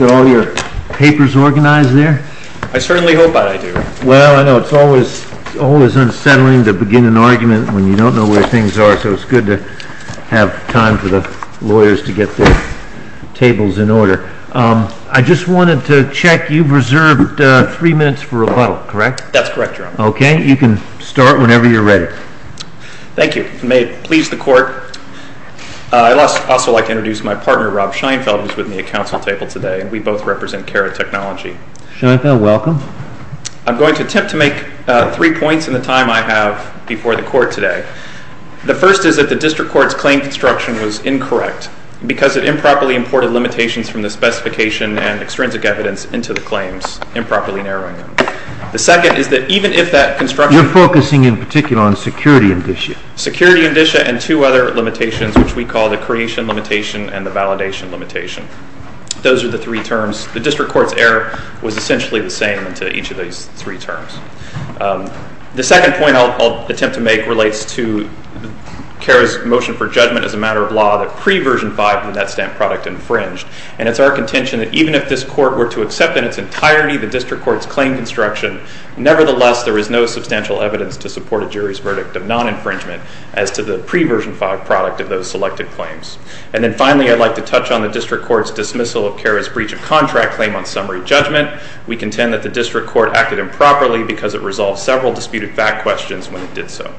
Are all your papers organized there? I certainly hope that I do. Well, I know it's always unsettling to begin an argument when you don't know where things are, so it's good to have time for the lawyers to get their tables in order. I just wanted to check, you've reserved three minutes for rebuttal, correct? That's correct, Your Honor. Okay, you can start whenever you're ready. Thank you. May it please the Court, I'd also like to introduce my partner, Rob Scheinfeld, who's with me at counsel table today, and we both represent Carrot Technology. Scheinfeld, welcome. I'm going to attempt to make three points in the time I have before the Court today. The first is that the District Court's claim construction was incorrect because it improperly imported limitations from the specification and extrinsic evidence into the claims, improperly narrowing them. The second is that even if that construction— You're focusing in particular on security indicia. Security indicia and two other limitations, which we call the creation limitation and the validation limitation. Those are the three terms. The District Court's error was essentially the same to each of these three terms. The second point I'll attempt to make relates to Carrot's motion for judgment as a matter of law that pre-Version 5 of the Net Stamp product infringed, and it's our contention that even if this Court were to accept in its entirety the District Court's claim construction, nevertheless, there is no substantial evidence to support a jury's verdict of non-infringement as to the pre-Version 5 product of those selected claims. And then finally, I'd like to touch on the District Court's dismissal of Carrot's breach of contract claim on summary judgment. We contend that the District Court acted improperly because it resolved several disputed fact questions when it did so.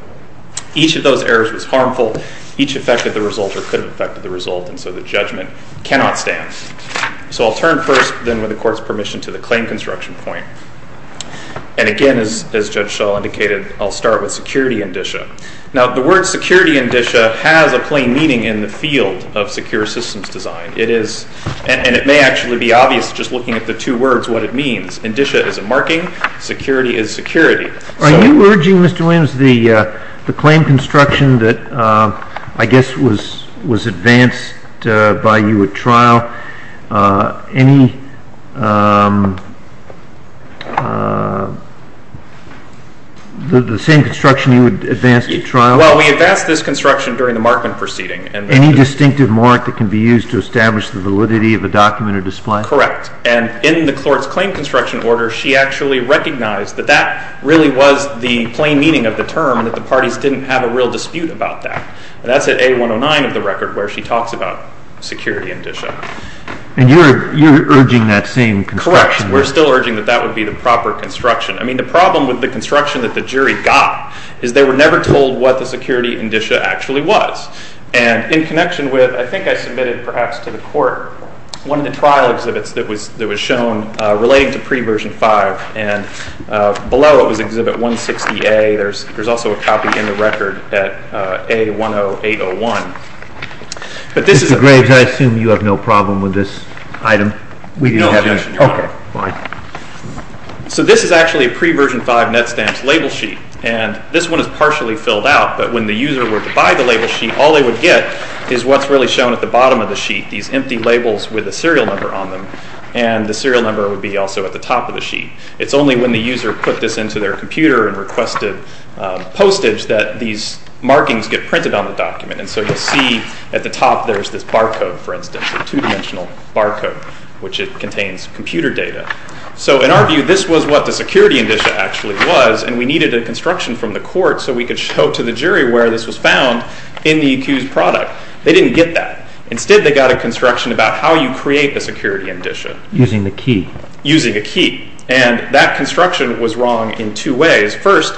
Each of those errors was harmful. Each affected the result or could have affected the result, and so the judgment cannot stand. So I'll turn first, then with the Court's permission, to the claim construction point. And again, as Judge Shaw indicated, I'll start with security indicia. Now, the word security indicia has a plain meaning in the field of secure systems design. It is—and it may actually be obvious just looking at the two words what it means. Indicia is a marking. Security is security. Are you urging, Mr. Williams, the claim construction that I guess was advanced by you at trial, any—the same construction you advanced at trial? Well, we advanced this construction during the markman proceeding. Any distinctive mark that can be used to establish the validity of a document or display? Correct. And in the Court's claim construction order, she actually recognized that that really was the plain meaning of the term and that the parties didn't have a real dispute about that. And that's at A109 of the record where she talks about security indicia. And you're urging that same construction? Correct. We're still urging that that would be the proper construction. I mean, the problem with the construction that the jury got is they were never told what the security indicia actually was. And in connection with—I think I submitted perhaps to the Court one of the trial exhibits that was shown relating to Pre-Version 5. And below it was Exhibit 160A. There's also a copy in the record at A10801. But this is— Mr. Graves, I assume you have no problem with this item? No objection, Your Honor. Okay, fine. So this is actually a Pre-Version 5 net stamps label sheet. And this one is partially filled out. But when the user were to buy the label sheet, all they would get is what's really shown at the bottom of the sheet, these empty labels with a serial number on them. And the serial number would be also at the top of the sheet. It's only when the user put this into their computer and requested postage that these markings get printed on the document. And so you'll see at the top there's this barcode, for instance, a two-dimensional barcode, which contains computer data. So in our view, this was what the security indicia actually was. And we needed a construction from the court so we could show to the jury where this was found in the accused product. They didn't get that. Instead, they got a construction about how you create a security indicia. Using the key. Using a key. And that construction was wrong in two ways. First,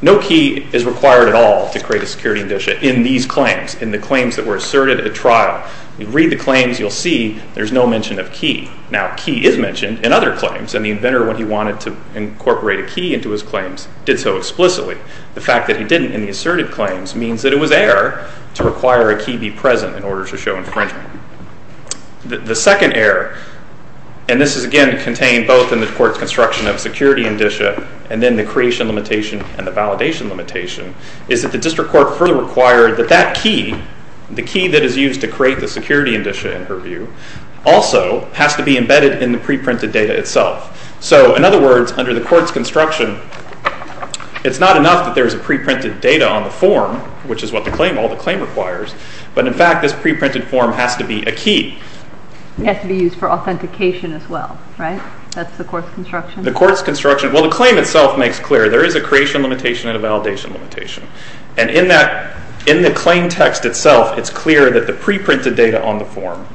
no key is required at all to create a security indicia in these claims, in the claims that were asserted at trial. You read the claims, you'll see there's no mention of key. Now, key is mentioned in other claims, and the inventor, when he wanted to incorporate a key into his claims, did so explicitly. The fact that he didn't in the asserted claims means that it was error to require a key be present in order to show infringement. The second error, and this is, again, contained both in the court's construction of security indicia and then the creation limitation and the validation limitation, is that the district court further required that that key, the key that is used to create the security indicia, in her view, also has to be embedded in the pre-printed data itself. So, in other words, under the court's construction, it's not enough that there's a pre-printed data on the form, which is what all the claim requires, but, in fact, this pre-printed form has to be a key. It has to be used for authentication as well, right? That's the court's construction? The court's construction. Well, the claim itself makes clear there is a creation limitation and a validation limitation. And in the claim text itself, it's clear that the pre-printed data on the form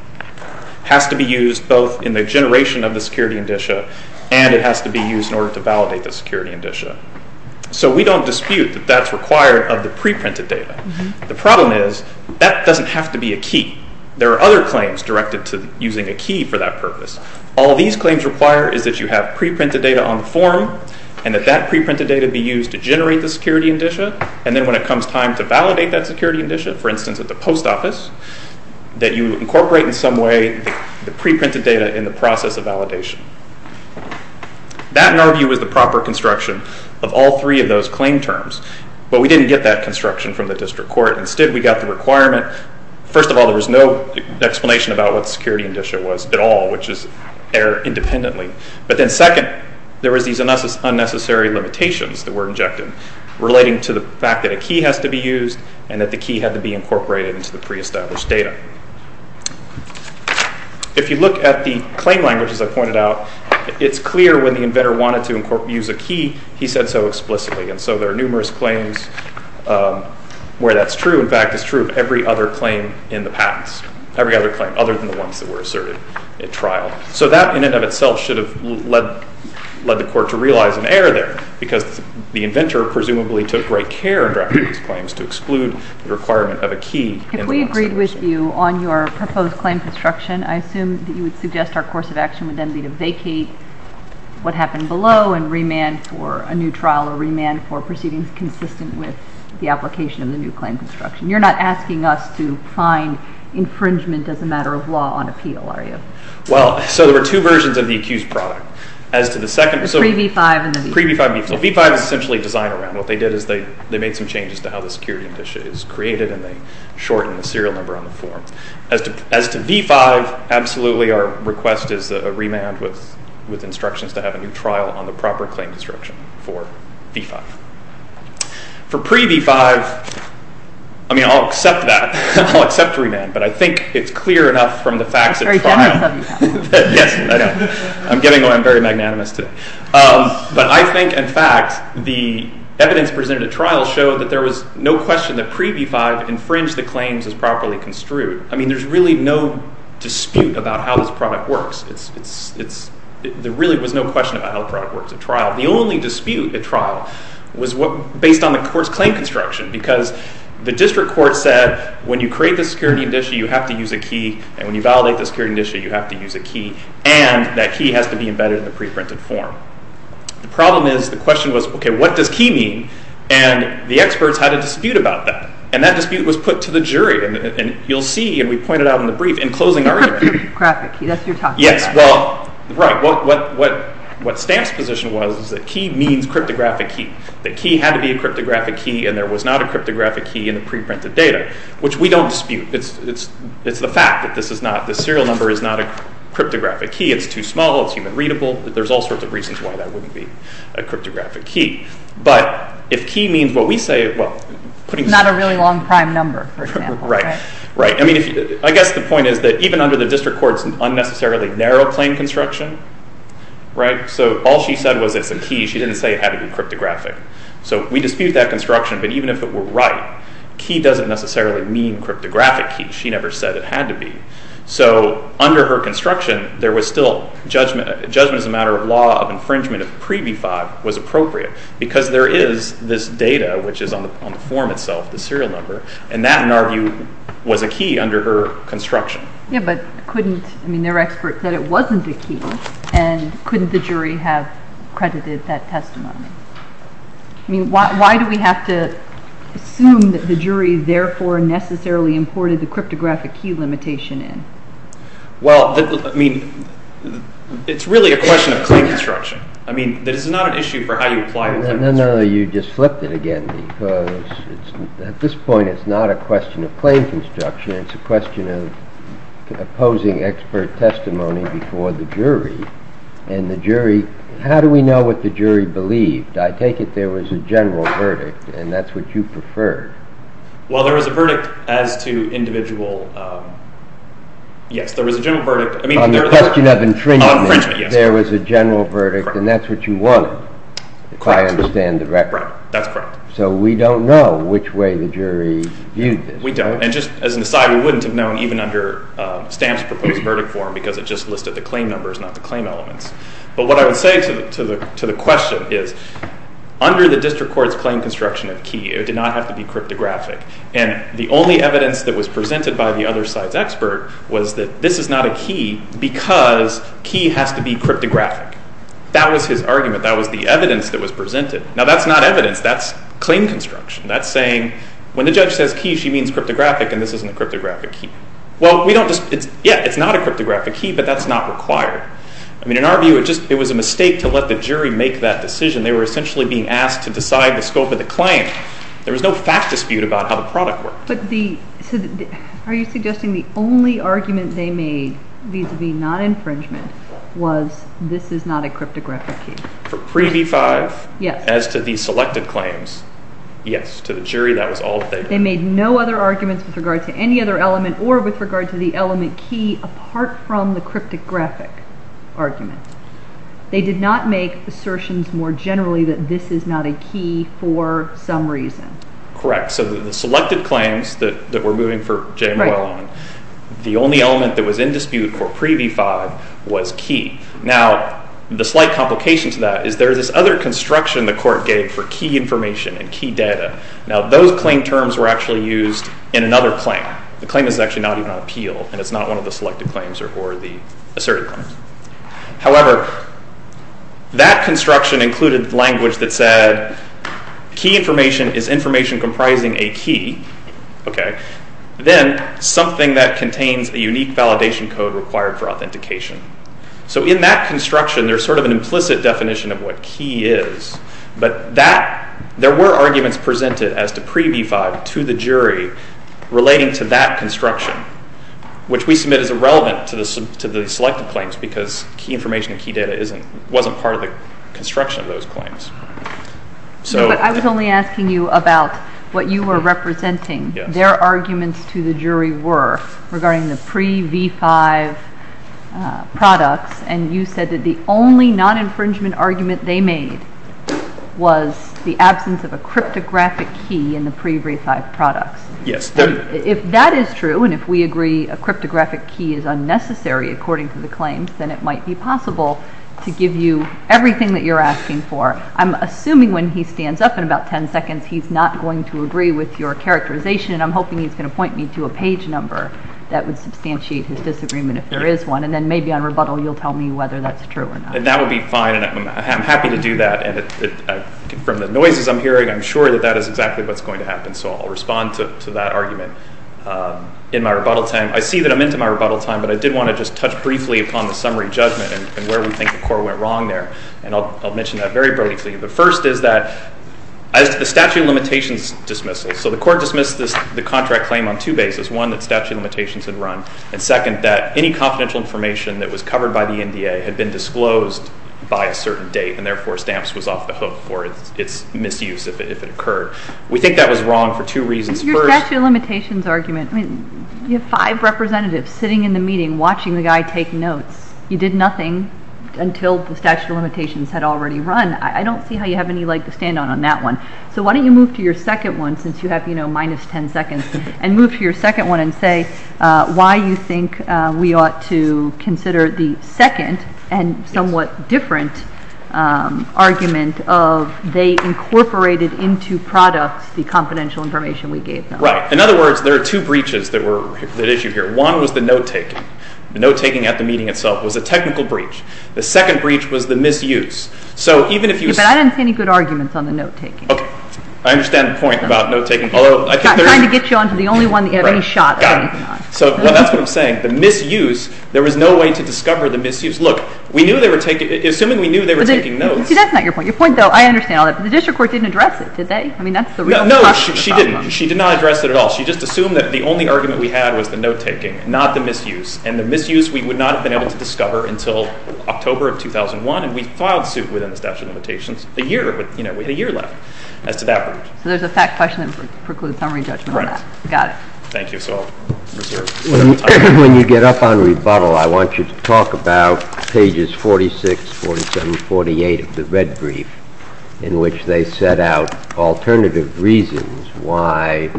has to be used both in the generation of the security indicia and it has to be used in order to validate the security indicia. So we don't dispute that that's required of the pre-printed data. The problem is that doesn't have to be a key. There are other claims directed to using a key for that purpose. All these claims require is that you have pre-printed data on the form and that that pre-printed data be used to generate the security indicia, and then when it comes time to validate that security indicia, for instance, at the post office, that you incorporate in some way the pre-printed data in the process of validation. That, in our view, is the proper construction of all three of those claim terms. But we didn't get that construction from the district court. Instead, we got the requirement. First of all, there was no explanation about what the security indicia was at all, which is there independently. But then second, there was these unnecessary limitations that were injected relating to the fact that a key has to be used and that the key had to be incorporated into the pre-established data. If you look at the claim language, as I pointed out, it's clear when the inventor wanted to use a key, he said so explicitly. And so there are numerous claims where that's true. In fact, it's true of every other claim in the past, every other claim other than the ones that were asserted at trial. So that, in and of itself, should have led the court to realize an error there because the inventor presumably took great care in drafting these claims to exclude the requirement of a key. If we agreed with you on your proposed claim construction, I assume that you would suggest our course of action would then be to vacate what happened below and remand for a new trial or remand for proceedings consistent with the application of the new claim construction. You're not asking us to find infringement as a matter of law on appeal, are you? Well, so there were two versions of the accused product. As to the second... The pre-V-5 and the V-5. Pre-V-5 and V-5. Well, V-5 is essentially design around. What they did is they made some changes to how the security condition is created and they shortened the serial number on the form. As to V-5, absolutely our request is a remand with instructions to have a new trial on the proper claim construction for V-5. For pre-V-5, I mean, I'll accept that. I'll accept a remand, but I think it's clear enough from the facts at trial... Yes, I know. I'm getting very magnanimous today. But I think, in fact, the evidence presented at trial showed that there was no question that pre-V-5 infringed the claims as properly construed. I mean, there's really no dispute about how this product works. There really was no question about how the product works at trial. The only dispute at trial was based on the court's claim construction because the district court said when you create the security condition, you have to use a key. And when you validate the security condition, you have to use a key. And that key has to be embedded in the pre-printed form. The problem is, the question was, okay, what does key mean? And the experts had a dispute about that. And that dispute was put to the jury. And you'll see, and we pointed out in the brief, in closing our hearing... Cryptographic key, that's what you're talking about. Yes, well, right. What Stamp's position was is that key means cryptographic key, that key had to be a cryptographic key and there was not a cryptographic key in the pre-printed data, which we don't dispute. It's the fact that this serial number is not a cryptographic key. It's too small, it's human-readable. There's all sorts of reasons why that wouldn't be a cryptographic key. But if key means what we say, well... Not a really long prime number, for example. Right, right. I mean, I guess the point is that even under the district court's unnecessarily narrow claim construction, right, so all she said was it's a key. She didn't say it had to be cryptographic. So we dispute that construction, but even if it were right, key doesn't necessarily mean cryptographic key. She never said it had to be. So under her construction, there was still judgment. Judgment is a matter of law, of infringement, if pre-B-5 was appropriate, because there is this data, which is on the form itself, the serial number, and that, in our view, was a key under her construction. Yeah, but couldn't... I mean, their expert said it wasn't a key and couldn't the jury have credited that testimony? I mean, why do we have to assume that the jury therefore necessarily imported the cryptographic key limitation in? Well, I mean, it's really a question of claim construction. I mean, this is not an issue for how you apply... No, no, no, you just flipped it again, because at this point it's not a question of claim construction, it's a question of opposing expert testimony before the jury, and the jury, how do we know what the jury believed? I take it there was a general verdict, and that's what you preferred. Well, there was a verdict as to individual... Yes, there was a general verdict... On the question of infringement. On infringement, yes. There was a general verdict, and that's what you wanted. Correct. If I understand the record. That's correct. So we don't know which way the jury viewed this. We don't, and just as an aside, we wouldn't have known even under Stamp's proposed verdict form, because it just listed the claim numbers, not the claim elements. But what I would say to the question is, under the district court's claim construction of key, it did not have to be cryptographic, and the only evidence that was presented by the other side's expert was that this is not a key because key has to be cryptographic. That was his argument. That was the evidence that was presented. Now, that's not evidence. That's claim construction. That's saying, when the judge says key, she means cryptographic, and this isn't a cryptographic key. Well, we don't just, yeah, it's not a cryptographic key, but that's not required. I mean, in our view, it was a mistake to let the jury make that decision. They were essentially being asked to decide the scope of the claim. There was no fact dispute about how the product worked. Are you suggesting the only argument they made vis-à-vis non-infringement was this is not a cryptographic key? For Pre-V-5, as to the selected claims, yes. To the jury, that was all that they made. They made no other arguments with regard to any other element or with regard to the element key apart from the cryptographic argument. They did not make assertions more generally that this is not a key for some reason. Correct. So the selected claims that we're moving for January 11, the only element that was in dispute for Pre-V-5 was key. Now, the slight complication to that is there is this other construction the court gave for key information and key data. Now, those claim terms were actually used in another claim. The claim is actually not even on appeal and it's not one of the selected claims or the asserted claims. However, that construction included language that said key information is information comprising a key, then something that contains a unique validation code required for authentication. So in that construction, there's sort of an implicit definition of what key is, but there were arguments presented as to Pre-V-5 to the jury relating to that construction, which we submit as irrelevant to the selected claims because key information and key data wasn't part of the construction of those claims. I was only asking you about what you were representing. Their arguments to the jury were regarding the Pre-V-5 products, and you said that the only non-infringement argument they made was the absence of a cryptographic key in the Pre-V-5 products. Yes. If that is true, and if we agree a cryptographic key is unnecessary according to the claims, then it might be possible to give you everything that you're asking for. I'm assuming when he stands up in about 10 seconds, he's not going to agree with your characterization, and I'm hoping he's going to point me to a page number that would substantiate his disagreement if there is one, and then maybe on rebuttal you'll tell me whether that's true or not. That would be fine, and I'm happy to do that. From the noises I'm hearing, I'm sure that that is exactly what's going to happen, so I'll respond to that argument in my rebuttal time. I see that I'm into my rebuttal time, but I did want to just touch briefly upon the summary judgment and where we think the Court went wrong there, and I'll mention that very briefly. The first is that the statute of limitations dismissal, so the Court dismissed the contract claim on two bases, one, that statute of limitations had run, and second, that any confidential information that was covered by the NDA had been disclosed by a certain date, and therefore stamps was off the hook for its misuse if it occurred. We think that was wrong for two reasons. Your statute of limitations argument, you have five representatives sitting in the meeting watching the guy take notes. You did nothing until the statute of limitations had already run. I don't see how you have any leg to stand on on that one, so why don't you move to your second one, since you have minus 10 seconds, and move to your second one and say why you think we ought to consider the second and somewhat different argument of they incorporated into products the confidential information we gave them. Right. In other words, there are two breaches that were at issue here. One was the note-taking. The note-taking at the meeting itself was a technical breach. The second breach was the misuse. But I didn't see any good arguments on the note-taking. Okay. I understand the point about note-taking. I'm not trying to get you onto the only one that you have any shot on. Got it. Well, that's what I'm saying. The misuse, there was no way to discover the misuse. Look, we knew they were taking notes. See, that's not your point. Your point, though, I understand. The district court didn't address it, did they? No, she didn't. She did not address it at all. She just assumed that the only argument we had was the note-taking, not the misuse, and the misuse we would not have been able to discover until October of 2001, and we filed suit within the statute of limitations. We had a year left as to that breach. So there's a fact question that precludes summary judgment on that. Right. Got it. Thank you. When you get up on rebuttal, I want you to talk about pages 46, 47, 48 of the red brief in which they set out alternative reasons why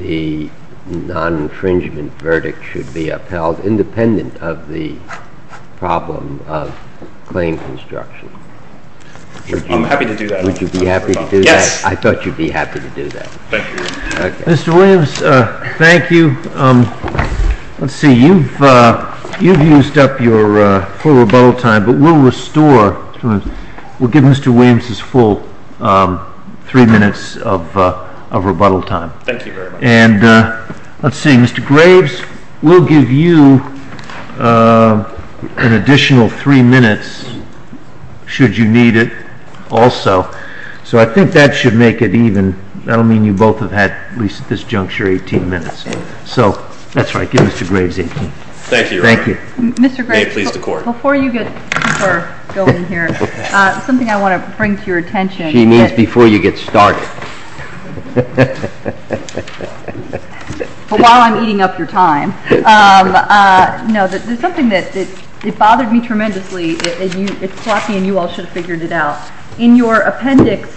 the non-infringement verdict should be upheld independent of the problem of claim construction. I'm happy to do that. Would you be happy to do that? Yes. I thought you'd be happy to do that. Thank you. Mr. Williams, thank you. Let's see. You've used up your full rebuttal time, but we'll restore. We'll give Mr. Williams his full three minutes of rebuttal time. Thank you very much. And let's see. Mr. Graves, we'll give you an additional three minutes should you need it also. So I think that should make it even. That'll mean you both have had at least at this juncture 18 minutes. So that's right. Give Mr. Graves 18. Thank you, Your Honor. Thank you. May it please the Court. Mr. Graves, before you get people going here, something I want to bring to your attention. She means before you get started. But while I'm eating up your time. No, there's something that bothered me tremendously. It's sloppy and you all should have figured it out. In your appendix,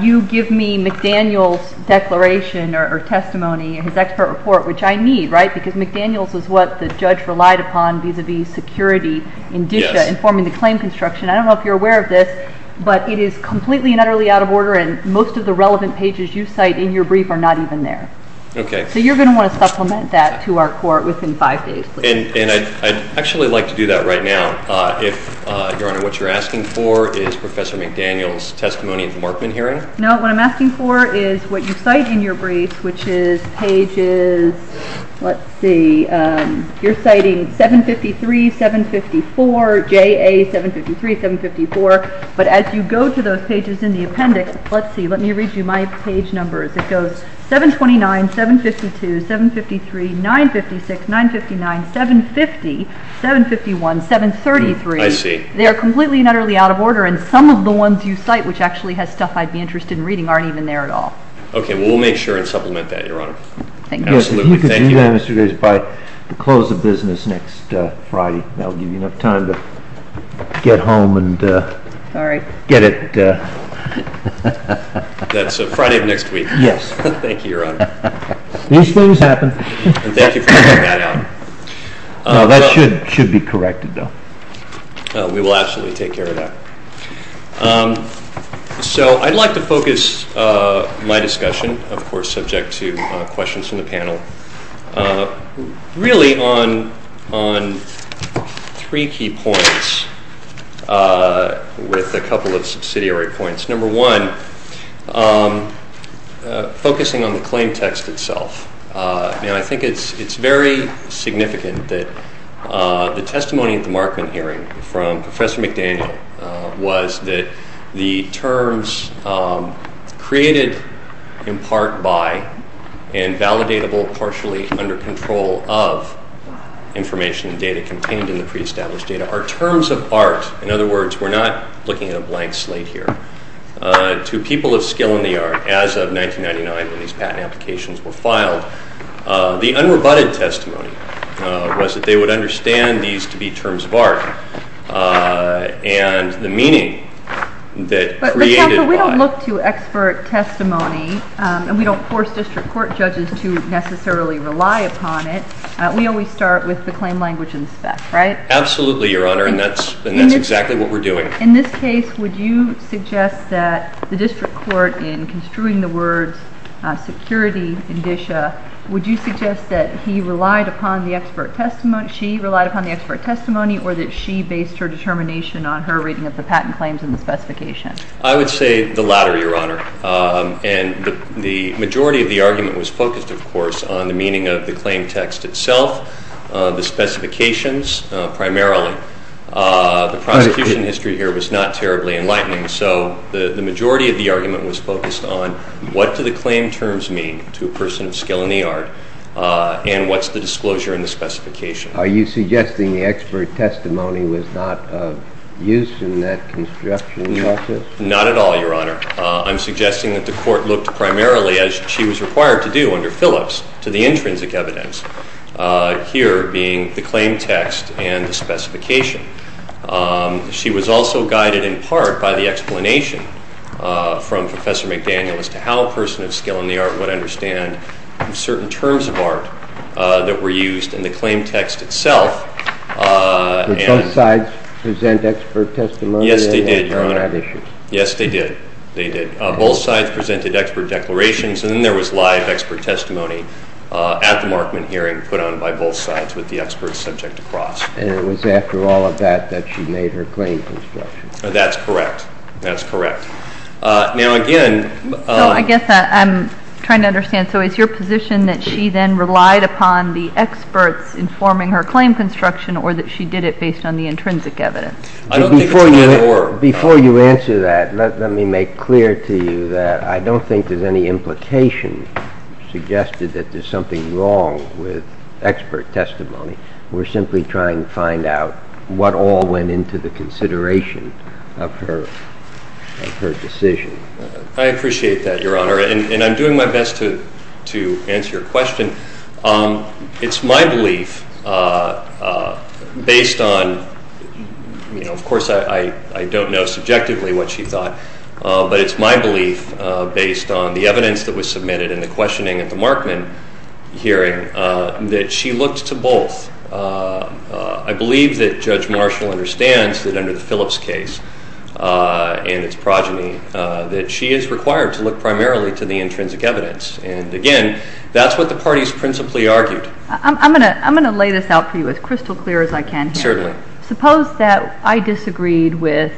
you give me McDaniel's declaration or testimony, his expert report, which I need, right? Because McDaniel's is what the judge relied upon vis-à-vis security in DISHA informing the claim construction. I don't know if you're aware of this, but it is completely and utterly out of order and most of the relevant pages you cite in your brief are not even there. Okay. So you're going to want to supplement that to our Court within five days. And I'd actually like to do that right now. Your Honor, what you're asking for is Professor McDaniel's testimony at the Markman hearing? No, what I'm asking for is what you cite in your brief, which is pages, let's see, you're citing 753, 754, JA 753, 754. But as you go to those pages in the appendix, let's see, let me read you my page numbers. It goes 729, 752, 753, 956, 959, 750, 751, 733. I see. They are completely and utterly out of order, and some of the ones you cite, which actually has stuff I'd be interested in reading, aren't even there at all. Okay. Well, we'll make sure and supplement that, Your Honor. Thank you. Absolutely. Thank you. If you could do that, Mr. Davis, by the close of business next Friday, that will give you enough time to get home and get it. All right. That's Friday of next week. Yes. Thank you, Your Honor. These things happen. And thank you for pointing that out. No, that should be corrected, though. We will absolutely take care of that. So I'd like to focus my discussion, of course, subject to questions from the panel, really on three key points with a couple of subsidiary points. Number one, focusing on the claim text itself. I think it's very significant that the testimony at the Markman hearing from Professor McDaniel was that the terms created in part by and validatable partially under control of information and data contained in the preestablished data are terms of art. In other words, we're not looking at a blank slate here. To people of skill in the art, as of 1999, when these patent applications were filed, the unrebutted testimony was that they would understand these to be terms of art, and the meaning that created why. But, counsel, we don't look to expert testimony, and we don't force district court judges to necessarily rely upon it. We always start with the claim language in spec, right? Absolutely, Your Honor. And that's exactly what we're doing. In this case, would you suggest that the district court, in construing the words security indicia, would you suggest that he relied upon the expert testimony, she relied upon the expert testimony, or that she based her determination on her reading of the patent claims and the specification? I would say the latter, Your Honor. And the majority of the argument was focused, of course, on the meaning of the claim text itself, the specifications primarily. The prosecution history here was not terribly enlightening, so the majority of the argument was focused on what do the claim terms mean to a person of skill in the art, and what's the disclosure in the specification. Are you suggesting the expert testimony was not used in that construction process? Not at all, Your Honor. I'm suggesting that the court looked primarily, as she was required to do under Phillips, to the intrinsic evidence. Here being the claim text and the specification. She was also guided in part by the explanation from Professor McDaniel as to how a person of skill in the art would understand certain terms of art that were used in the claim text itself. Did both sides present expert testimony? Yes, they did, Your Honor. Yes, they did. They did. Both sides presented expert declarations, and then there was live expert testimony at the Markman hearing put on by both sides with the experts subject to cross. And it was after all of that that she made her claim construction? That's correct. That's correct. Now, again. I guess I'm trying to understand. So is your position that she then relied upon the experts informing her claim construction or that she did it based on the intrinsic evidence? Before you answer that, let me make clear to you that I don't think there's any implication suggested that there's something wrong with expert testimony. We're simply trying to find out what all went into the consideration of her decision. I appreciate that, Your Honor. And I'm doing my best to answer your question. It's my belief based on, of course, I don't know subjectively what she thought, but it's my belief based on the evidence that was submitted in the questioning at the Markman hearing that she looked to both. I believe that Judge Marshall understands that under the Phillips case and its progeny that she is required to look primarily to the intrinsic evidence. And, again, that's what the parties principally argued. I'm going to lay this out for you as crystal clear as I can here. Certainly. Suppose that I disagreed with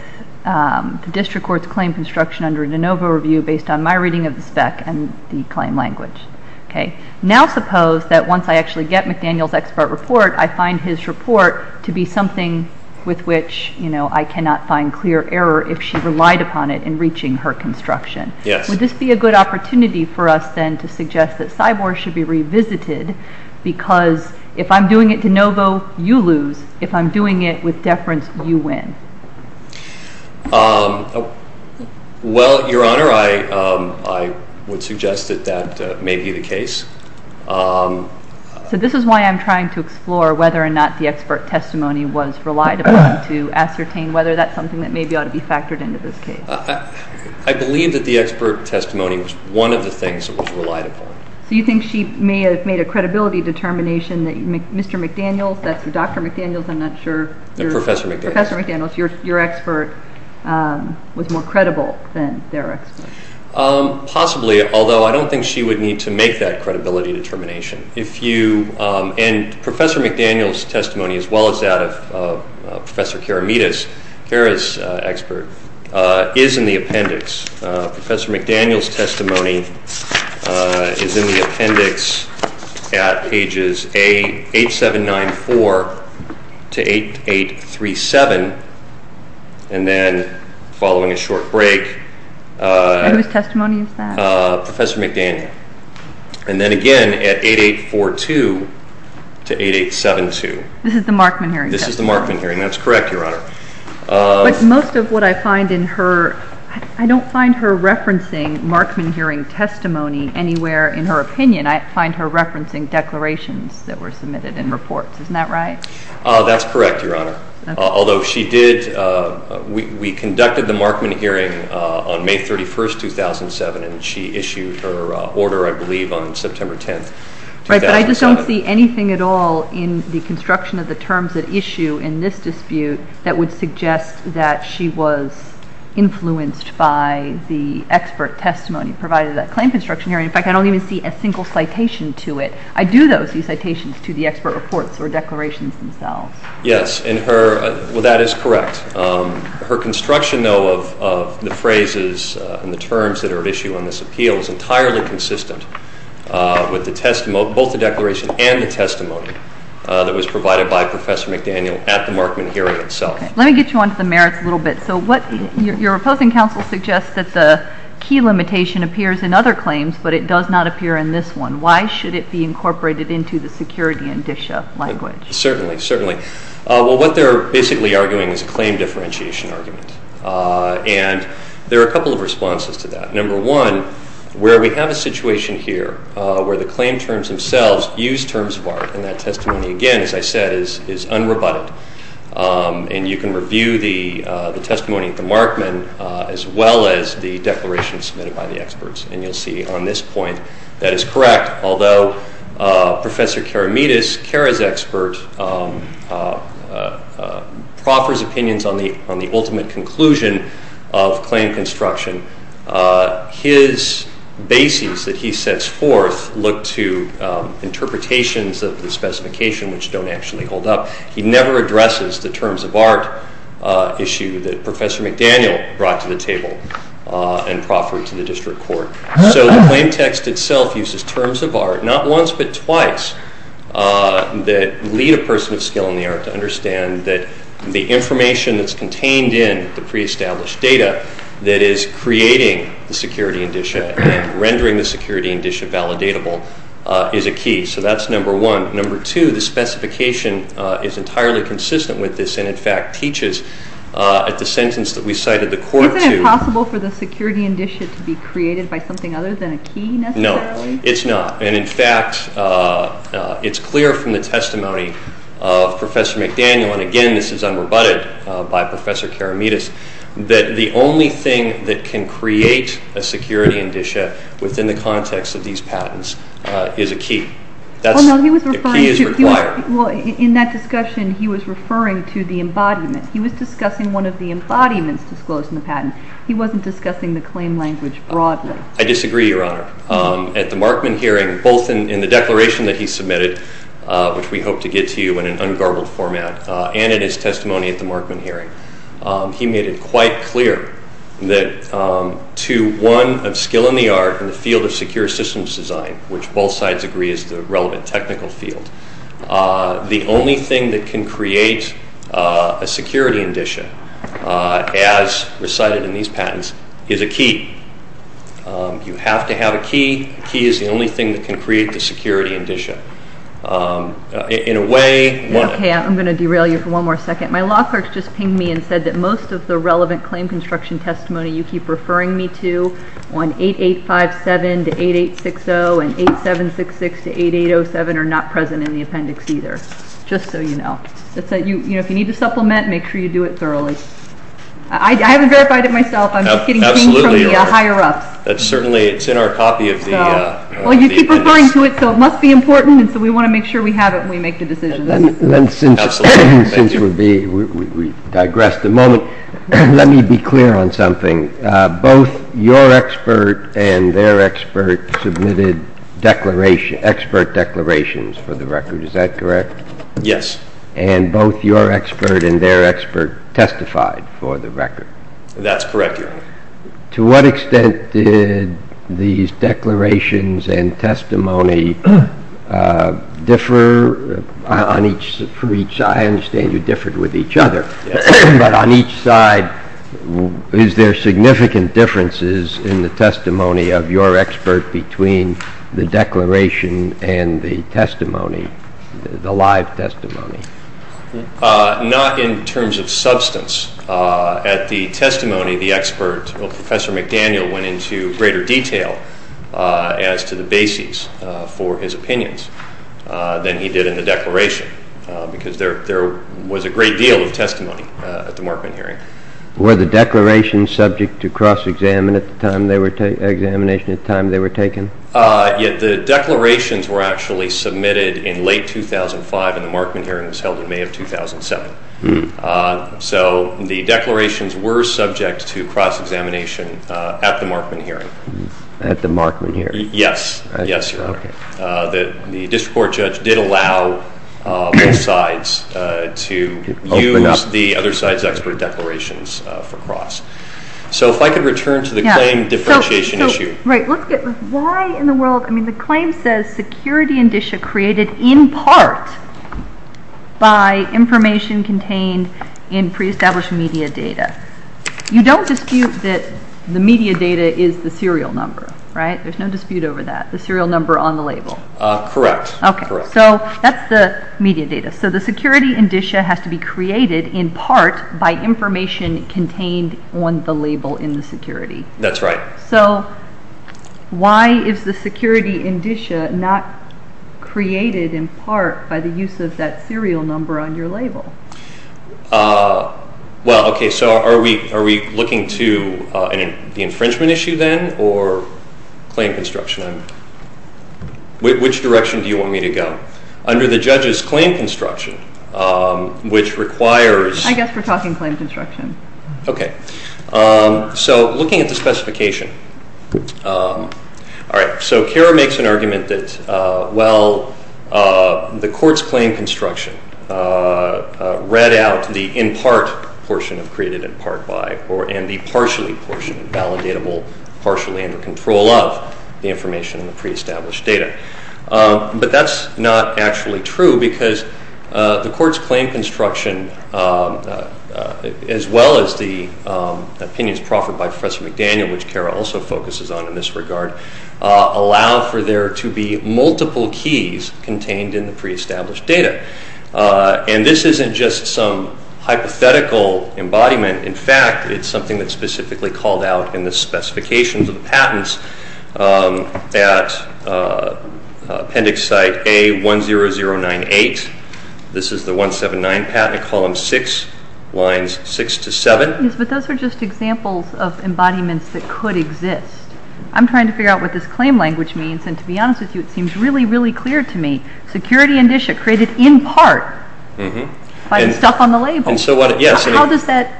the district court's claim construction under a de novo review based on my reading of the spec and the claim language. Now suppose that once I actually get McDaniel's expert report, I find his report to be something with which I cannot find clear error if she relied upon it in reaching her construction. Yes. Would this be a good opportunity for us then to suggest that Cyborg should be revisited because if I'm doing it de novo, you lose. If I'm doing it with deference, you win. Well, Your Honor, I would suggest that that may be the case. So this is why I'm trying to explore whether or not the expert testimony was relied upon to ascertain whether that's something that maybe ought to be factored into this case. I believe that the expert testimony was one of the things that was relied upon. So you think she may have made a credibility determination that Mr. McDaniel's, that's Dr. McDaniel's, I'm not sure. No, Professor McDaniel's. Professor McDaniel's, your expert, was more credible than their expert. Possibly, although I don't think she would need to make that credibility determination. And Professor McDaniel's testimony, as well as that of Professor Karamides, Kara's expert, is in the appendix. Professor McDaniel's testimony is in the appendix at pages 8794 to 8837, and then following a short break. And whose testimony is that? Professor McDaniel. And then again at 8842 to 8872. This is the Markman hearing testimony? This is the Markman hearing. That's correct, Your Honor. But most of what I find in her, I don't find her referencing Markman hearing testimony anywhere in her opinion. I find her referencing declarations that were submitted in reports. Isn't that right? That's correct, Your Honor. Although she did, we conducted the Markman hearing on May 31, 2007, and she issued her order, I believe, on September 10, 2007. Right, but I just don't see anything at all in the construction of the terms that issue in this dispute that would suggest that she was influenced by the expert testimony provided at that claim construction hearing. In fact, I don't even see a single citation to it. I do, though, see citations to the expert reports or declarations themselves. Yes, and that is correct. Her construction, though, of the phrases and the terms that are at issue on this appeal is entirely consistent with both the declaration and the testimony that was provided by Professor McDaniel at the Markman hearing itself. Let me get you onto the merits a little bit. So your opposing counsel suggests that the key limitation appears in other claims, but it does not appear in this one. Why should it be incorporated into the security and DSHA language? Certainly, certainly. Well, what they're basically arguing is a claim differentiation argument, and there are a couple of responses to that. Number one, where we have a situation here where the claim terms themselves use terms of art, and that testimony, again, as I said, is unrebutted. And you can review the testimony at the Markman as well as the declaration submitted by the experts, and you'll see on this point that is correct, although Professor Karamidis, CARA's expert, proffers opinions on the ultimate conclusion of claim construction. His basis that he sets forth look to interpretations of the specification which don't actually hold up. He never addresses the terms of art issue that Professor McDaniel brought to the table and proffered to the district court. So the claim text itself uses terms of art not once but twice that lead a person of skill in the art to understand that the information that's contained in the pre-established data that is creating the security indicia and rendering the security indicia validatable is a key. So that's number one. Number two, the specification is entirely consistent with this and in fact teaches at the sentence that we cited the court to. Isn't it possible for the security indicia to be created by something other than a key necessarily? No, it's not. And in fact, it's clear from the testimony of Professor McDaniel, and again, this is unrebutted by Professor Karamidis, that the only thing that can create a security indicia within the context of these patents is a key. The key is required. Well, in that discussion, he was referring to the embodiment. He was discussing one of the embodiments disclosed in the patent. He wasn't discussing the claim language broadly. I disagree, Your Honor. At the Markman hearing, both in the declaration that he submitted, which we hope to get to you in an ungarbled format, and in his testimony at the Markman hearing, he made it quite clear that to one of skill in the art in the field of secure systems design, which both sides agree is the relevant technical field, the only thing that can create a security indicia, as recited in these patents, is a key. You have to have a key. The key is the only thing that can create the security indicia. In a way, one of the... Okay, I'm going to derail you for one more second. My law clerk just pinged me and said that most of the relevant claim construction testimony you keep referring me to on 8857 to 8860 and 8766 to 8807 are not present in the appendix either, just so you know. If you need to supplement, make sure you do it thoroughly. I haven't verified it myself. I'm just getting pinged from the higher-ups. Certainly, it's in our copy of the appendix. Well, you keep referring to it, so it must be important, and so we want to make sure we have it when we make the decision. Then since we've digressed a moment, let me be clear on something. Both your expert and their expert submitted expert declarations for the record. Is that correct? Yes. And both your expert and their expert testified for the record? That's correct, Your Honor. To what extent did these declarations and testimony differ on each side? I understand you differed with each other, but on each side, is there significant differences in the testimony of your expert between the declaration and the testimony, the live testimony? Not in terms of substance. At the testimony, the expert, Professor McDaniel, went into greater detail as to the basis for his opinions than he did in the declaration, because there was a great deal of testimony at the Markman hearing. Were the declarations subject to cross-examination at the time they were taken? The declarations were actually submitted in late 2005, and the Markman hearing was held in May of 2007. So the declarations were subject to cross-examination at the Markman hearing. At the Markman hearing? Yes, Your Honor. The district court judge did allow both sides to use the other side's expert declarations for cross. So if I could return to the claim differentiation issue. The claim says security indicia created in part by information contained in pre-established media data. You don't dispute that the media data is the serial number, right? There's no dispute over that, the serial number on the label. Correct. So that's the media data. So the security indicia has to be created in part by information contained on the label in the security. That's right. So why is the security indicia not created in part by the use of that serial number on your label? Well, okay, so are we looking to the infringement issue then or claim construction? Which direction do you want me to go? Under the judge's claim construction, which requires... I guess we're talking claim construction. Okay. So looking at the specification. All right. So Kara makes an argument that, well, the court's claim construction read out the in part portion of created in part by and the partially portion validatable partially under control of the information in the pre-established data. But that's not actually true because the court's claim construction as well as the opinions proffered by Professor McDaniel, which Kara also focuses on in this regard, allow for there to be multiple keys contained in the pre-established data. And this isn't just some hypothetical embodiment. In fact, it's something that's specifically called out in the specifications of the patents at appendix site A10098. This is the 179 patent at column 6, lines 6 to 7. Yes, but those are just examples of embodiments that could exist. I'm trying to figure out what this claim language means, and to be honest with you, it seems really, really clear to me. Security indicia created in part by the stuff on the label. How does that,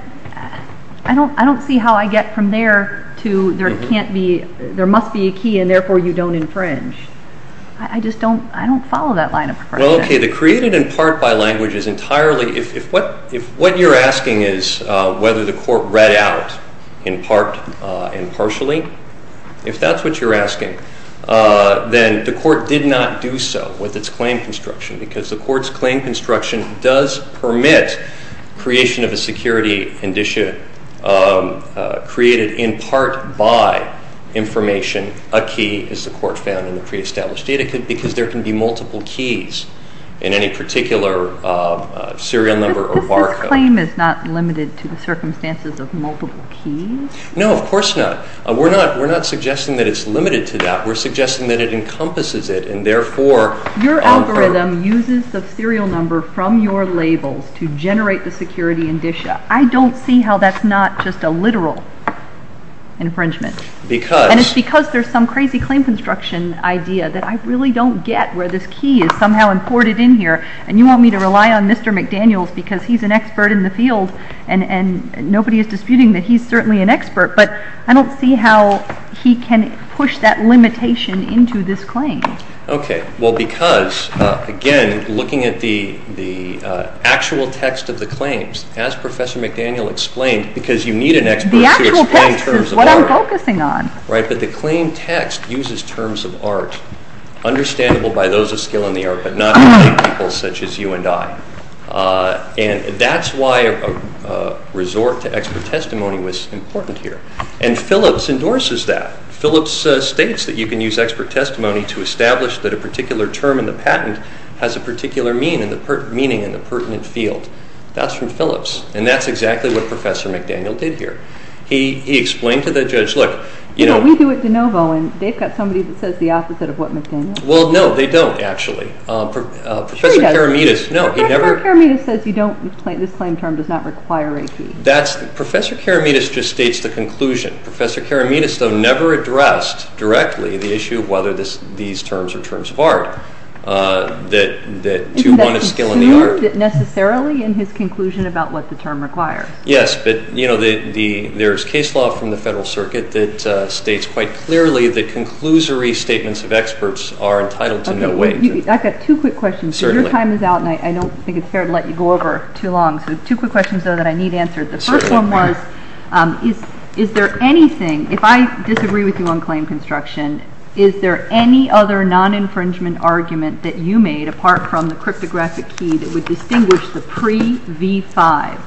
I don't see how I get from there to there can't be, there must be a key and therefore you don't infringe. I just don't, I don't follow that line of progression. Well, okay, the created in part by language is entirely, if what you're asking is whether the court read out in part and partially, if that's what you're asking, then the court did not do so with its claim construction because the court's claim construction does permit creation of a security indicia created in part by information, a key, as the court found in the pre-established data, because there can be multiple keys in any particular serial number or barcode. But this claim is not limited to the circumstances of multiple keys? No, of course not. We're not suggesting that it's limited to that. We're suggesting that it encompasses it and therefore Your algorithm uses the serial number from your labels to generate the security indicia. I don't see how that's not just a literal infringement. Because And it's because there's some crazy claim construction idea that I really don't get where this key is somehow imported in here and you want me to rely on Mr. McDaniels because he's an expert in the field and nobody is disputing that he's certainly an expert, but I don't see how he can push that limitation into this claim. Okay. Well, because, again, looking at the actual text of the claims, as Professor McDaniel explained, because you need an expert to explain terms of art. The actual text is what I'm focusing on. Right, but the claim text uses terms of art understandable by those of skill in the art, but not by people such as you and I. And that's why a resort to expert testimony was important here. And Phillips endorses that. Phillips states that you can use expert testimony to establish that a particular term in the patent has a particular meaning in the pertinent field. That's from Phillips. And that's exactly what Professor McDaniel did here. He explained to the judge, look, you know. We do it de novo and they've got somebody that says the opposite of what McDaniel. Well, no, they don't actually. Professor Karamides, no, he never. Professor Karamides says you don't, this claim term does not require a key. That's, Professor Karamides just states the conclusion. Professor Karamides, though, never addressed directly the issue of whether these terms are terms of art, that two, one is skill in the art. That he assumed necessarily in his conclusion about what the term requires. Yes, but, you know, there's case law from the Federal Circuit that states quite clearly that conclusory statements of experts are entitled to no wage. I've got two quick questions. Certainly. Your time is out, and I don't think it's fair to let you go over too long. So two quick questions, though, that I need answered. The first one was, is there anything, if I disagree with you on claim construction, is there any other non-infringement argument that you made, apart from the cryptographic key, that would distinguish the pre-V5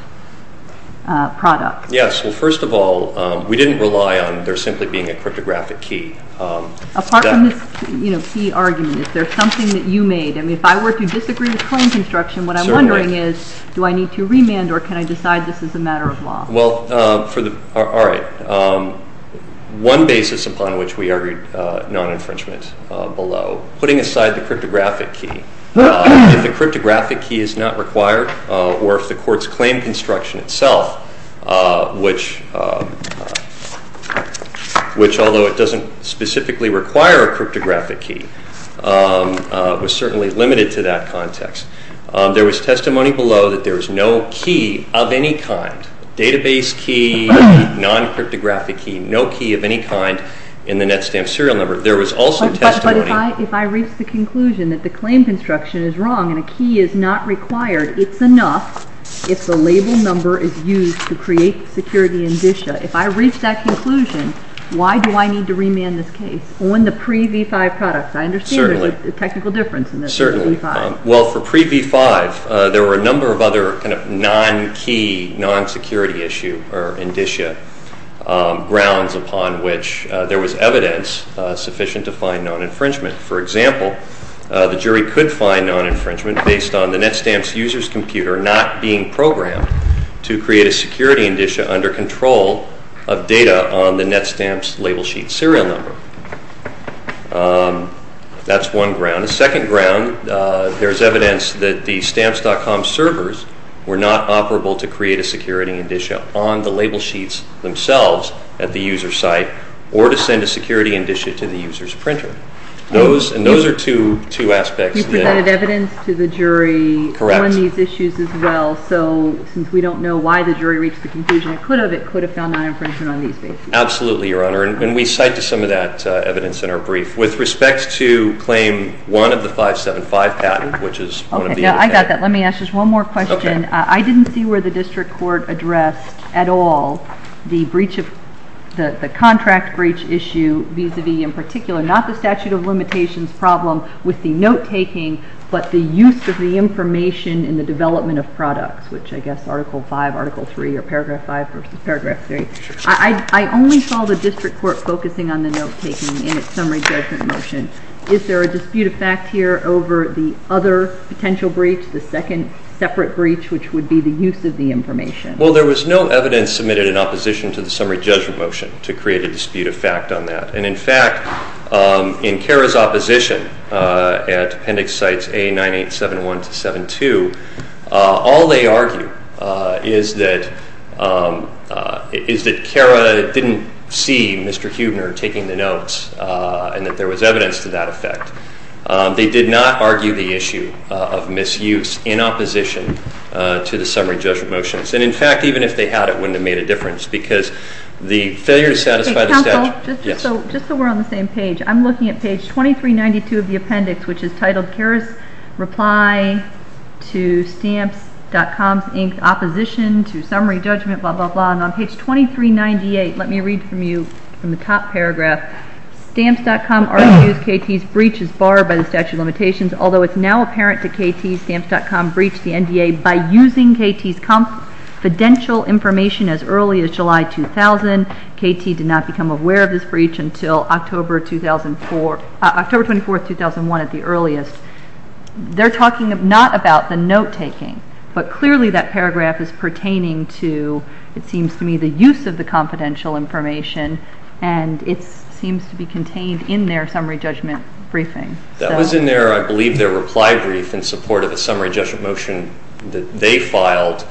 product? Yes, well, first of all, we didn't rely on there simply being a cryptographic key. Apart from this, you know, key argument, is there something that you made? I mean, if I were to disagree with claim construction, what I'm wondering is, do I need to remand or can I decide this is a matter of law? Well, all right. One basis upon which we argued non-infringement below, putting aside the cryptographic key, if the cryptographic key is not required or if the court's claim construction itself, which although it doesn't specifically require a cryptographic key, was certainly limited to that context. There was testimony below that there was no key of any kind, database key, non-cryptographic key, no key of any kind in the NetStamp serial number. There was also testimony… But if I reach the conclusion that the claim construction is wrong and a key is not required, it's enough if the label number is used to create security indicia. If I reach that conclusion, why do I need to remand this case on the pre-V5 product? I understand there's a technical difference in this pre-V5. Well, for pre-V5, there were a number of other kind of non-key, non-security issue or indicia, grounds upon which there was evidence sufficient to find non-infringement. For example, the jury could find non-infringement based on the NetStamp's user's computer not being programmed to create a security indicia under control of data on the NetStamp's label sheet serial number. That's one ground. On the second ground, there's evidence that the Stamps.com servers were not operable to create a security indicia on the label sheets themselves at the user's site or to send a security indicia to the user's printer. And those are two aspects. You provided evidence to the jury on these issues as well. So since we don't know why the jury reached the conclusion it could have, it could have found non-infringement on these bases. Absolutely, Your Honor. And we cite to some of that evidence in our brief. With respect to Claim 1 of the 575 patent, which is one of the indicators. Okay, I got that. Let me ask just one more question. Okay. I didn't see where the district court addressed at all the breach of, the contract breach issue vis-a-vis in particular, not the statute of limitations problem with the note-taking, but the use of the information in the development of products, which I guess Article 5, Article 3, or Paragraph 5 versus Paragraph 3. I only saw the district court focusing on the note-taking in its summary judgment motion. Is there a dispute of fact here over the other potential breach, the second separate breach, which would be the use of the information? Well, there was no evidence submitted in opposition to the summary judgment motion to create a dispute of fact on that. And, in fact, in CARA's opposition at appendix sites A9871 to 72, all they argue is that CARA didn't see Mr. Huebner taking the notes and that there was evidence to that effect. They did not argue the issue of misuse in opposition to the summary judgment motions. And, in fact, even if they had, it wouldn't have made a difference because the failure to satisfy the statute. Okay, counsel, just so we're on the same page, I'm looking at page 2392 of the appendix, which is titled CARA's reply to stamps.com's inked opposition to summary judgment, blah, blah, blah. And on page 2398, let me read from you from the top paragraph. Stamps.com argues KT's breach is barred by the statute of limitations, although it's now apparent that KT's stamps.com breached the NDA by using KT's confidential information as early as July 2000. KT did not become aware of this breach until October 24, 2001 at the earliest. They're talking not about the note-taking, but clearly that paragraph is pertaining to, it seems to me, the use of the confidential information, and it seems to be contained in their summary judgment briefing. That was in their, I believe, their reply brief in support of a summary judgment motion that they filed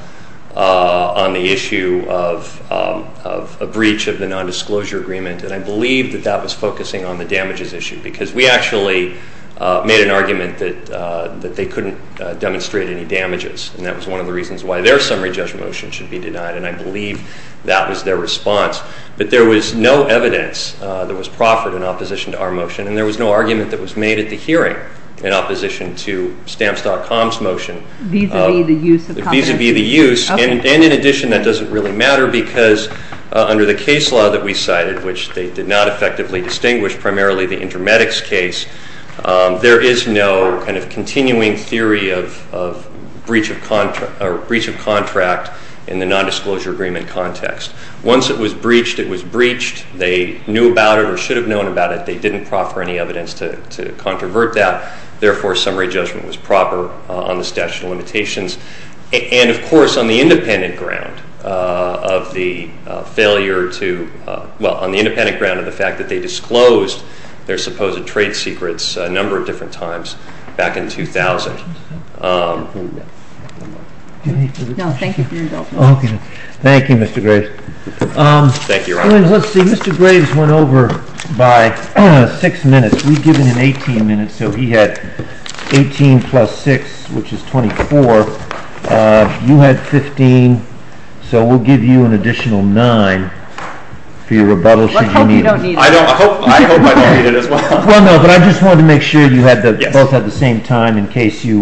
on the issue of a breach of the nondisclosure agreement, and I believe that that was focusing on the damages issue because we actually made an argument that they couldn't demonstrate any damages, and that was one of the reasons why their summary judgment motion should be denied, and I believe that was their response. But there was no evidence that was proffered in opposition to our motion, and there was no argument that was made at the hearing in opposition to stamps.com's motion. Vis-a-vis the use of confidential information? Vis-a-vis the use, and in addition, that doesn't really matter because under the case law that we cited, which they did not effectively distinguish, primarily the Intermedics case, there is no kind of continuing theory of breach of contract in the nondisclosure agreement context. Once it was breached, it was breached. They knew about it or should have known about it. They didn't proffer any evidence to controvert that. Therefore, summary judgment was proper on the statute of limitations, and, of course, on the independent ground of the failure to – well, on the independent ground of the fact that they disclosed their supposed trade secrets a number of different times back in 2000. Thank you, Mr. Graves. Thank you, Your Honor. Let's see, Mr. Graves went over by six minutes. We've given him 18 minutes, so he had 18 plus 6, which is 24. You had 15, so we'll give you an additional nine for your rebuttal should you need it. I hope you don't need it. I hope I don't need it as well. Well, no, but I just wanted to make sure you both had the same time in case you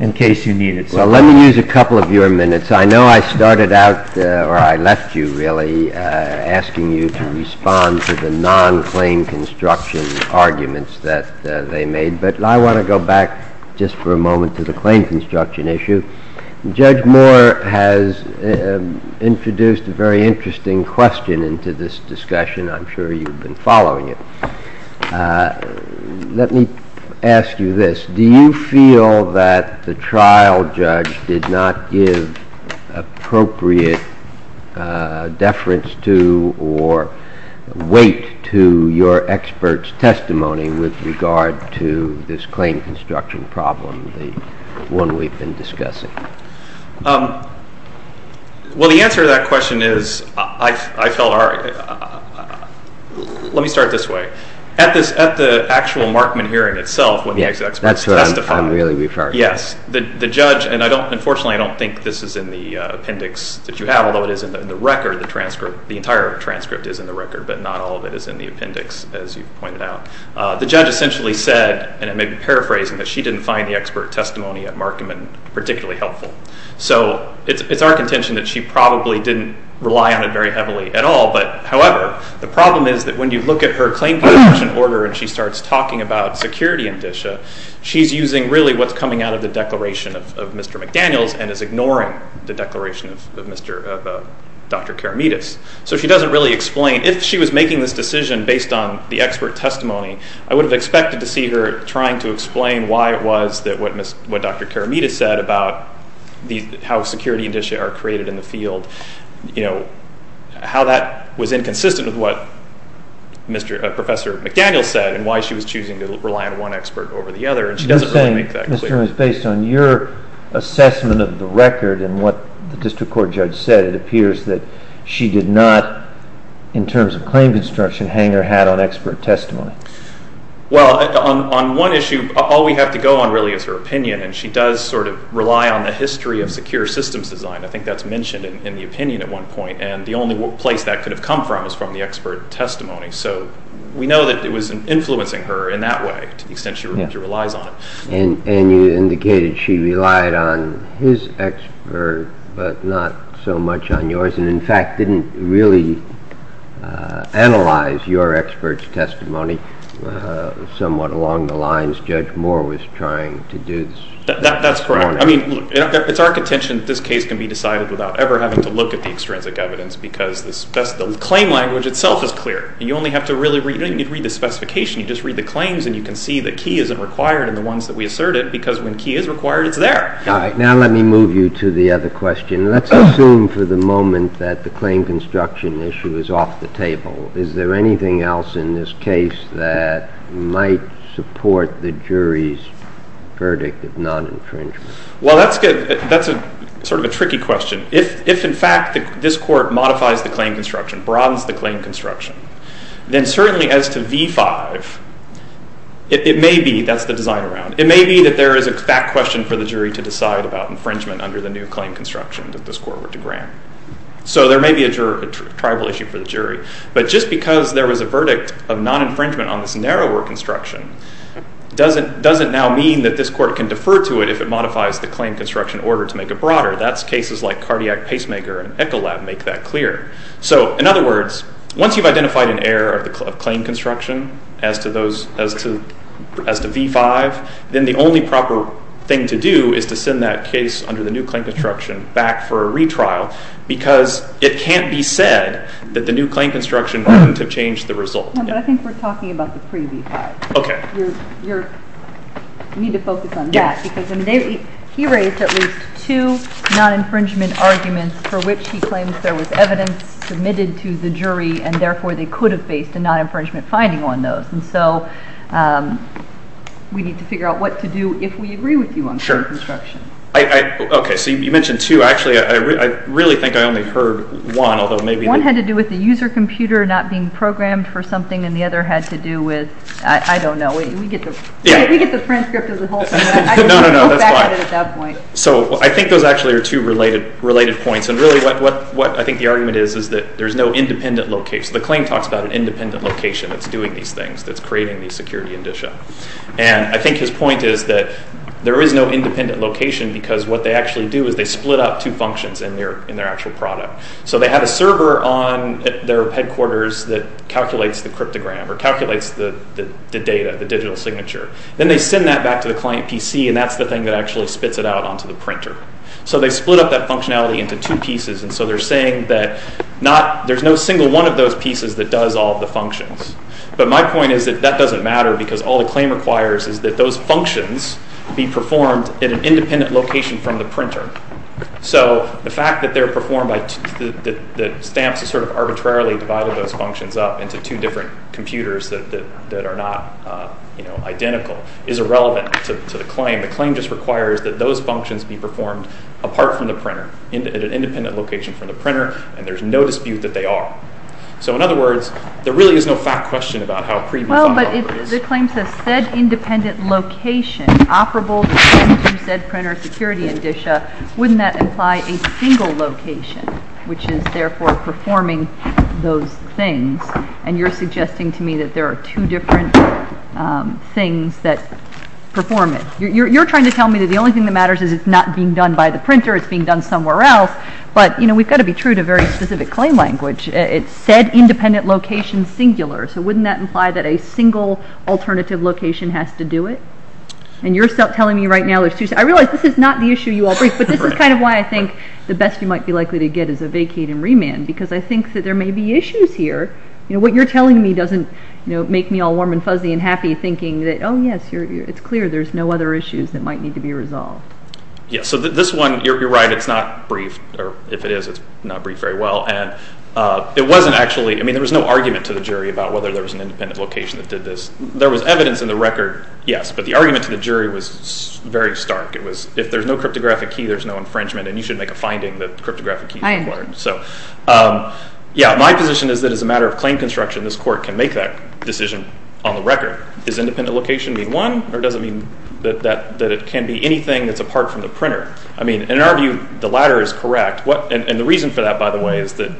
needed it. Well, let me use a couple of your minutes. I know I started out – or I left you, really, asking you to respond to the non-claim construction arguments that they made, but I want to go back just for a moment to the claim construction issue. Judge Moore has introduced a very interesting question into this discussion. I'm sure you've been following it. Let me ask you this. Do you feel that the trial judge did not give appropriate deference to or weight to your expert's testimony with regard to this claim construction problem, the one we've been discussing? Well, the answer to that question is I felt our – let me start this way. At the actual Markman hearing itself, when the expert testified – Yes, that's what I'm really referring to. Yes, the judge – and unfortunately, I don't think this is in the appendix that you have, although it is in the record, the transcript. The entire transcript is in the record, but not all of it is in the appendix, as you've pointed out. The judge essentially said – and I may be paraphrasing – that she didn't find the expert testimony at Markman particularly helpful. So it's our contention that she probably didn't rely on it very heavily at all. However, the problem is that when you look at her claim construction order and she starts talking about security indicia, she's using really what's coming out of the declaration of Mr. McDaniels and is ignoring the declaration of Dr. Karamidis. So she doesn't really explain. If she was making this decision based on the expert testimony, I would have expected to see her trying to explain why it was that what Dr. Karamidis said about how security indicia are created in the field, how that was inconsistent with what Professor McDaniels said and why she was choosing to rely on one expert over the other, and she doesn't really make that clear. You're saying, Mr. Ruins, based on your assessment of the record and what the district court judge said, it appears that she did not, in terms of claim construction, hang her hat on expert testimony. Well, on one issue, all we have to go on really is her opinion, and she does sort of rely on the history of secure systems design. I think that's mentioned in the opinion at one point, and the only place that could have come from is from the expert testimony. So we know that it was influencing her in that way to the extent she relies on it. And you indicated she relied on his expert but not so much on yours and, in fact, didn't really analyze your expert's testimony. Somewhat along the lines Judge Moore was trying to do this morning. That's correct. I mean, look, it's our contention that this case can be decided without ever having to look at the extrinsic evidence because the claim language itself is clear. You only have to really read the specification. You just read the claims and you can see that key isn't required in the ones that we asserted because when key is required, it's there. All right, now let me move you to the other question. Let's assume for the moment that the claim construction issue is off the table. Is there anything else in this case that might support the jury's verdict of non-infringement? Well, that's sort of a tricky question. If, in fact, this court modifies the claim construction, broadens the claim construction, then certainly as to v. 5, it may be that's the design around. It may be that there is a fact question for the jury to decide about infringement So there may be a tribal issue for the jury. But just because there was a verdict of non-infringement on this narrower construction doesn't now mean that this court can defer to it if it modifies the claim construction order to make it broader. That's cases like Cardiac Pacemaker and Echolab make that clear. So, in other words, once you've identified an error of claim construction as to v. 5, then the only proper thing to do is to send that case under the new claim construction back for a retrial because it can't be said that the new claim construction wouldn't have changed the result. But I think we're talking about the pre v. 5. Okay. You need to focus on that because he raised at least two non-infringement arguments for which he claims there was evidence submitted to the jury and therefore they could have faced a non-infringement finding on those. And so we need to figure out what to do if we agree with you on the construction. Sure. Okay. So you mentioned two. Actually, I really think I only heard one. One had to do with the user computer not being programmed for something and the other had to do with, I don't know. We get the transcript of the whole thing. No, no, no. That's fine. So I think those actually are two related points. And really what I think the argument is is that there's no independent location. So the claim talks about an independent location that's doing these things, that's creating these security indicia. And I think his point is that there is no independent location because what they actually do is they split up two functions in their actual product. So they have a server on their headquarters that calculates the cryptogram or calculates the data, the digital signature. Then they send that back to the client PC, and that's the thing that actually spits it out onto the printer. So they split up that functionality into two pieces, and so they're saying that there's no single one of those pieces that does all the functions. But my point is that that doesn't matter because all the claim requires is that those functions be performed in an independent location from the printer. So the fact that they're performed by the stamps that sort of arbitrarily divided those functions up into two different computers that are not identical is irrelevant to the claim. They're performed at an independent location from the printer, and there's no dispute that they are. So in other words, there really is no fact question about how pre-refinable it is. Well, but the claim says said independent location operable through said printer security indicia. Wouldn't that imply a single location, which is therefore performing those things? And you're suggesting to me that there are two different things that perform it. You're trying to tell me that the only thing that matters is it's not being done by the printer, it's being done somewhere else, but we've got to be true to very specific claim language. It's said independent location singular. So wouldn't that imply that a single alternative location has to do it? And you're telling me right now there's two. I realize this is not the issue you all bring, but this is kind of why I think the best you might be likely to get is a vacate and remand because I think that there may be issues here. What you're telling me doesn't make me all warm and fuzzy and happy thinking that, oh, yes, it's clear there's no other issues that might need to be resolved. Yes. So this one, you're right, it's not brief, or if it is, it's not brief very well. And it wasn't actually – I mean, there was no argument to the jury about whether there was an independent location that did this. There was evidence in the record, yes, but the argument to the jury was very stark. It was if there's no cryptographic key, there's no infringement, and you should make a finding that cryptographic keys are important. So, yeah, my position is that as a matter of claim construction, this court can make that decision on the record. Does independent location mean one, or does it mean that it can be anything that's apart from the printer? I mean, in our view, the latter is correct, and the reason for that, by the way, is that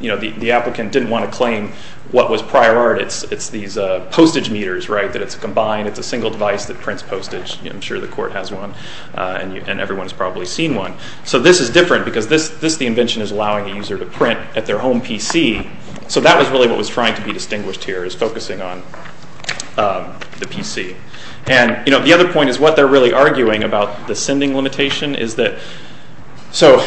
the applicant didn't want to claim what was prior art. It's these postage meters, right, that it's combined. It's a single device that prints postage. I'm sure the court has one, and everyone has probably seen one. So this is different because this, the invention, is allowing a user to print at their home PC. So that was really what was trying to be distinguished here, is focusing on the PC. And, you know, the other point is what they're really arguing about the sending limitation is that, so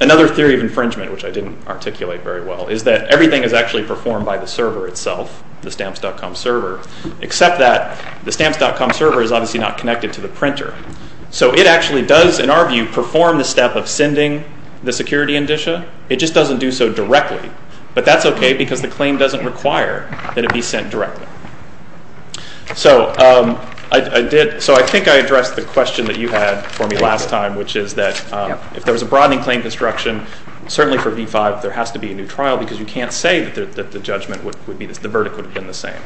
another theory of infringement, which I didn't articulate very well, is that everything is actually performed by the server itself, the stamps.com server, except that the stamps.com server is obviously not connected to the printer. So it actually does, in our view, perform the step of sending the security indicia. It just doesn't do so directly. But that's okay because the claim doesn't require that it be sent directly. So I did, so I think I addressed the question that you had for me last time, which is that if there was a broadening claim construction, certainly for V-5, there has to be a new trial because you can't say that the judgment would be, the verdict would have been the same.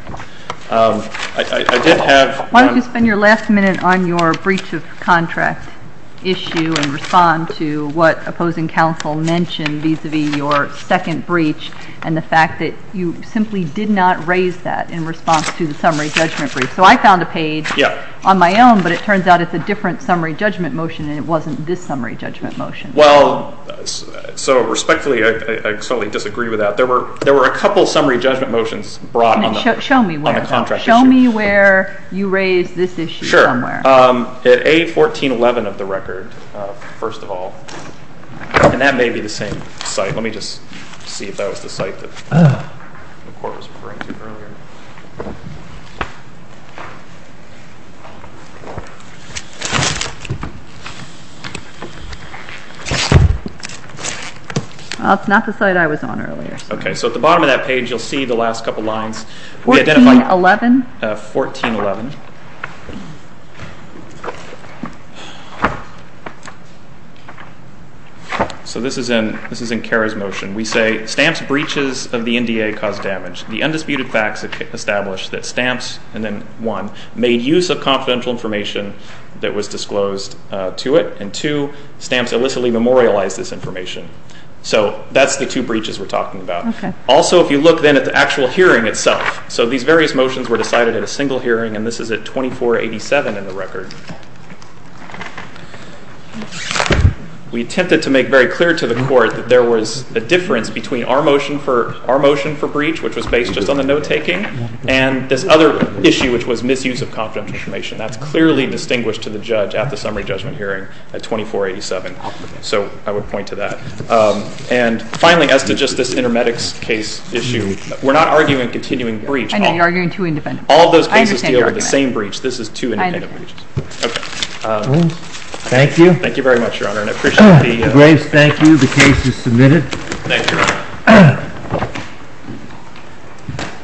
I did have. Why don't you spend your last minute on your breach of contract issue and respond to what opposing counsel mentioned vis-a-vis your second breach and the fact that you simply did not raise that in response to the summary judgment brief. So I found a page on my own, but it turns out it's a different summary judgment motion and it wasn't this summary judgment motion. Well, so respectfully, I totally disagree with that. There were a couple summary judgment motions brought on the contract issue. So show me where you raised this issue somewhere. Sure. At A1411 of the record, first of all, and that may be the same site. Let me just see if that was the site that the court was referring to earlier. Well, it's not the site I was on earlier. Okay. So at the bottom of that page, you'll see the last couple lines. A1411? A1411. So this is in CARA's motion. We say, stamps breaches of the NDA caused damage. The undisputed facts establish that stamps, and then one, made use of confidential information that was disclosed to it, and two, stamps illicitly memorialized this information. So that's the two breaches we're talking about. Okay. Also, if you look then at the actual hearing itself, so these various motions were decided at a single hearing, and this is at 2487 in the record. We attempted to make very clear to the court that there was a difference between our motion for breach, which was based just on the note-taking, and this other issue, which was misuse of confidential information. That's clearly distinguished to the judge at the summary judgment hearing at 2487. So I would point to that. And finally, as to just this intermedics case issue, we're not arguing continuing breach. I know. You're arguing two independent breaches. All those cases deal with the same breach. I understand your argument. This is two independent breaches. Okay. Thank you. Thank you very much, Your Honor, and I appreciate the— Graves, thank you. The case is submitted. Thank you, Your Honor.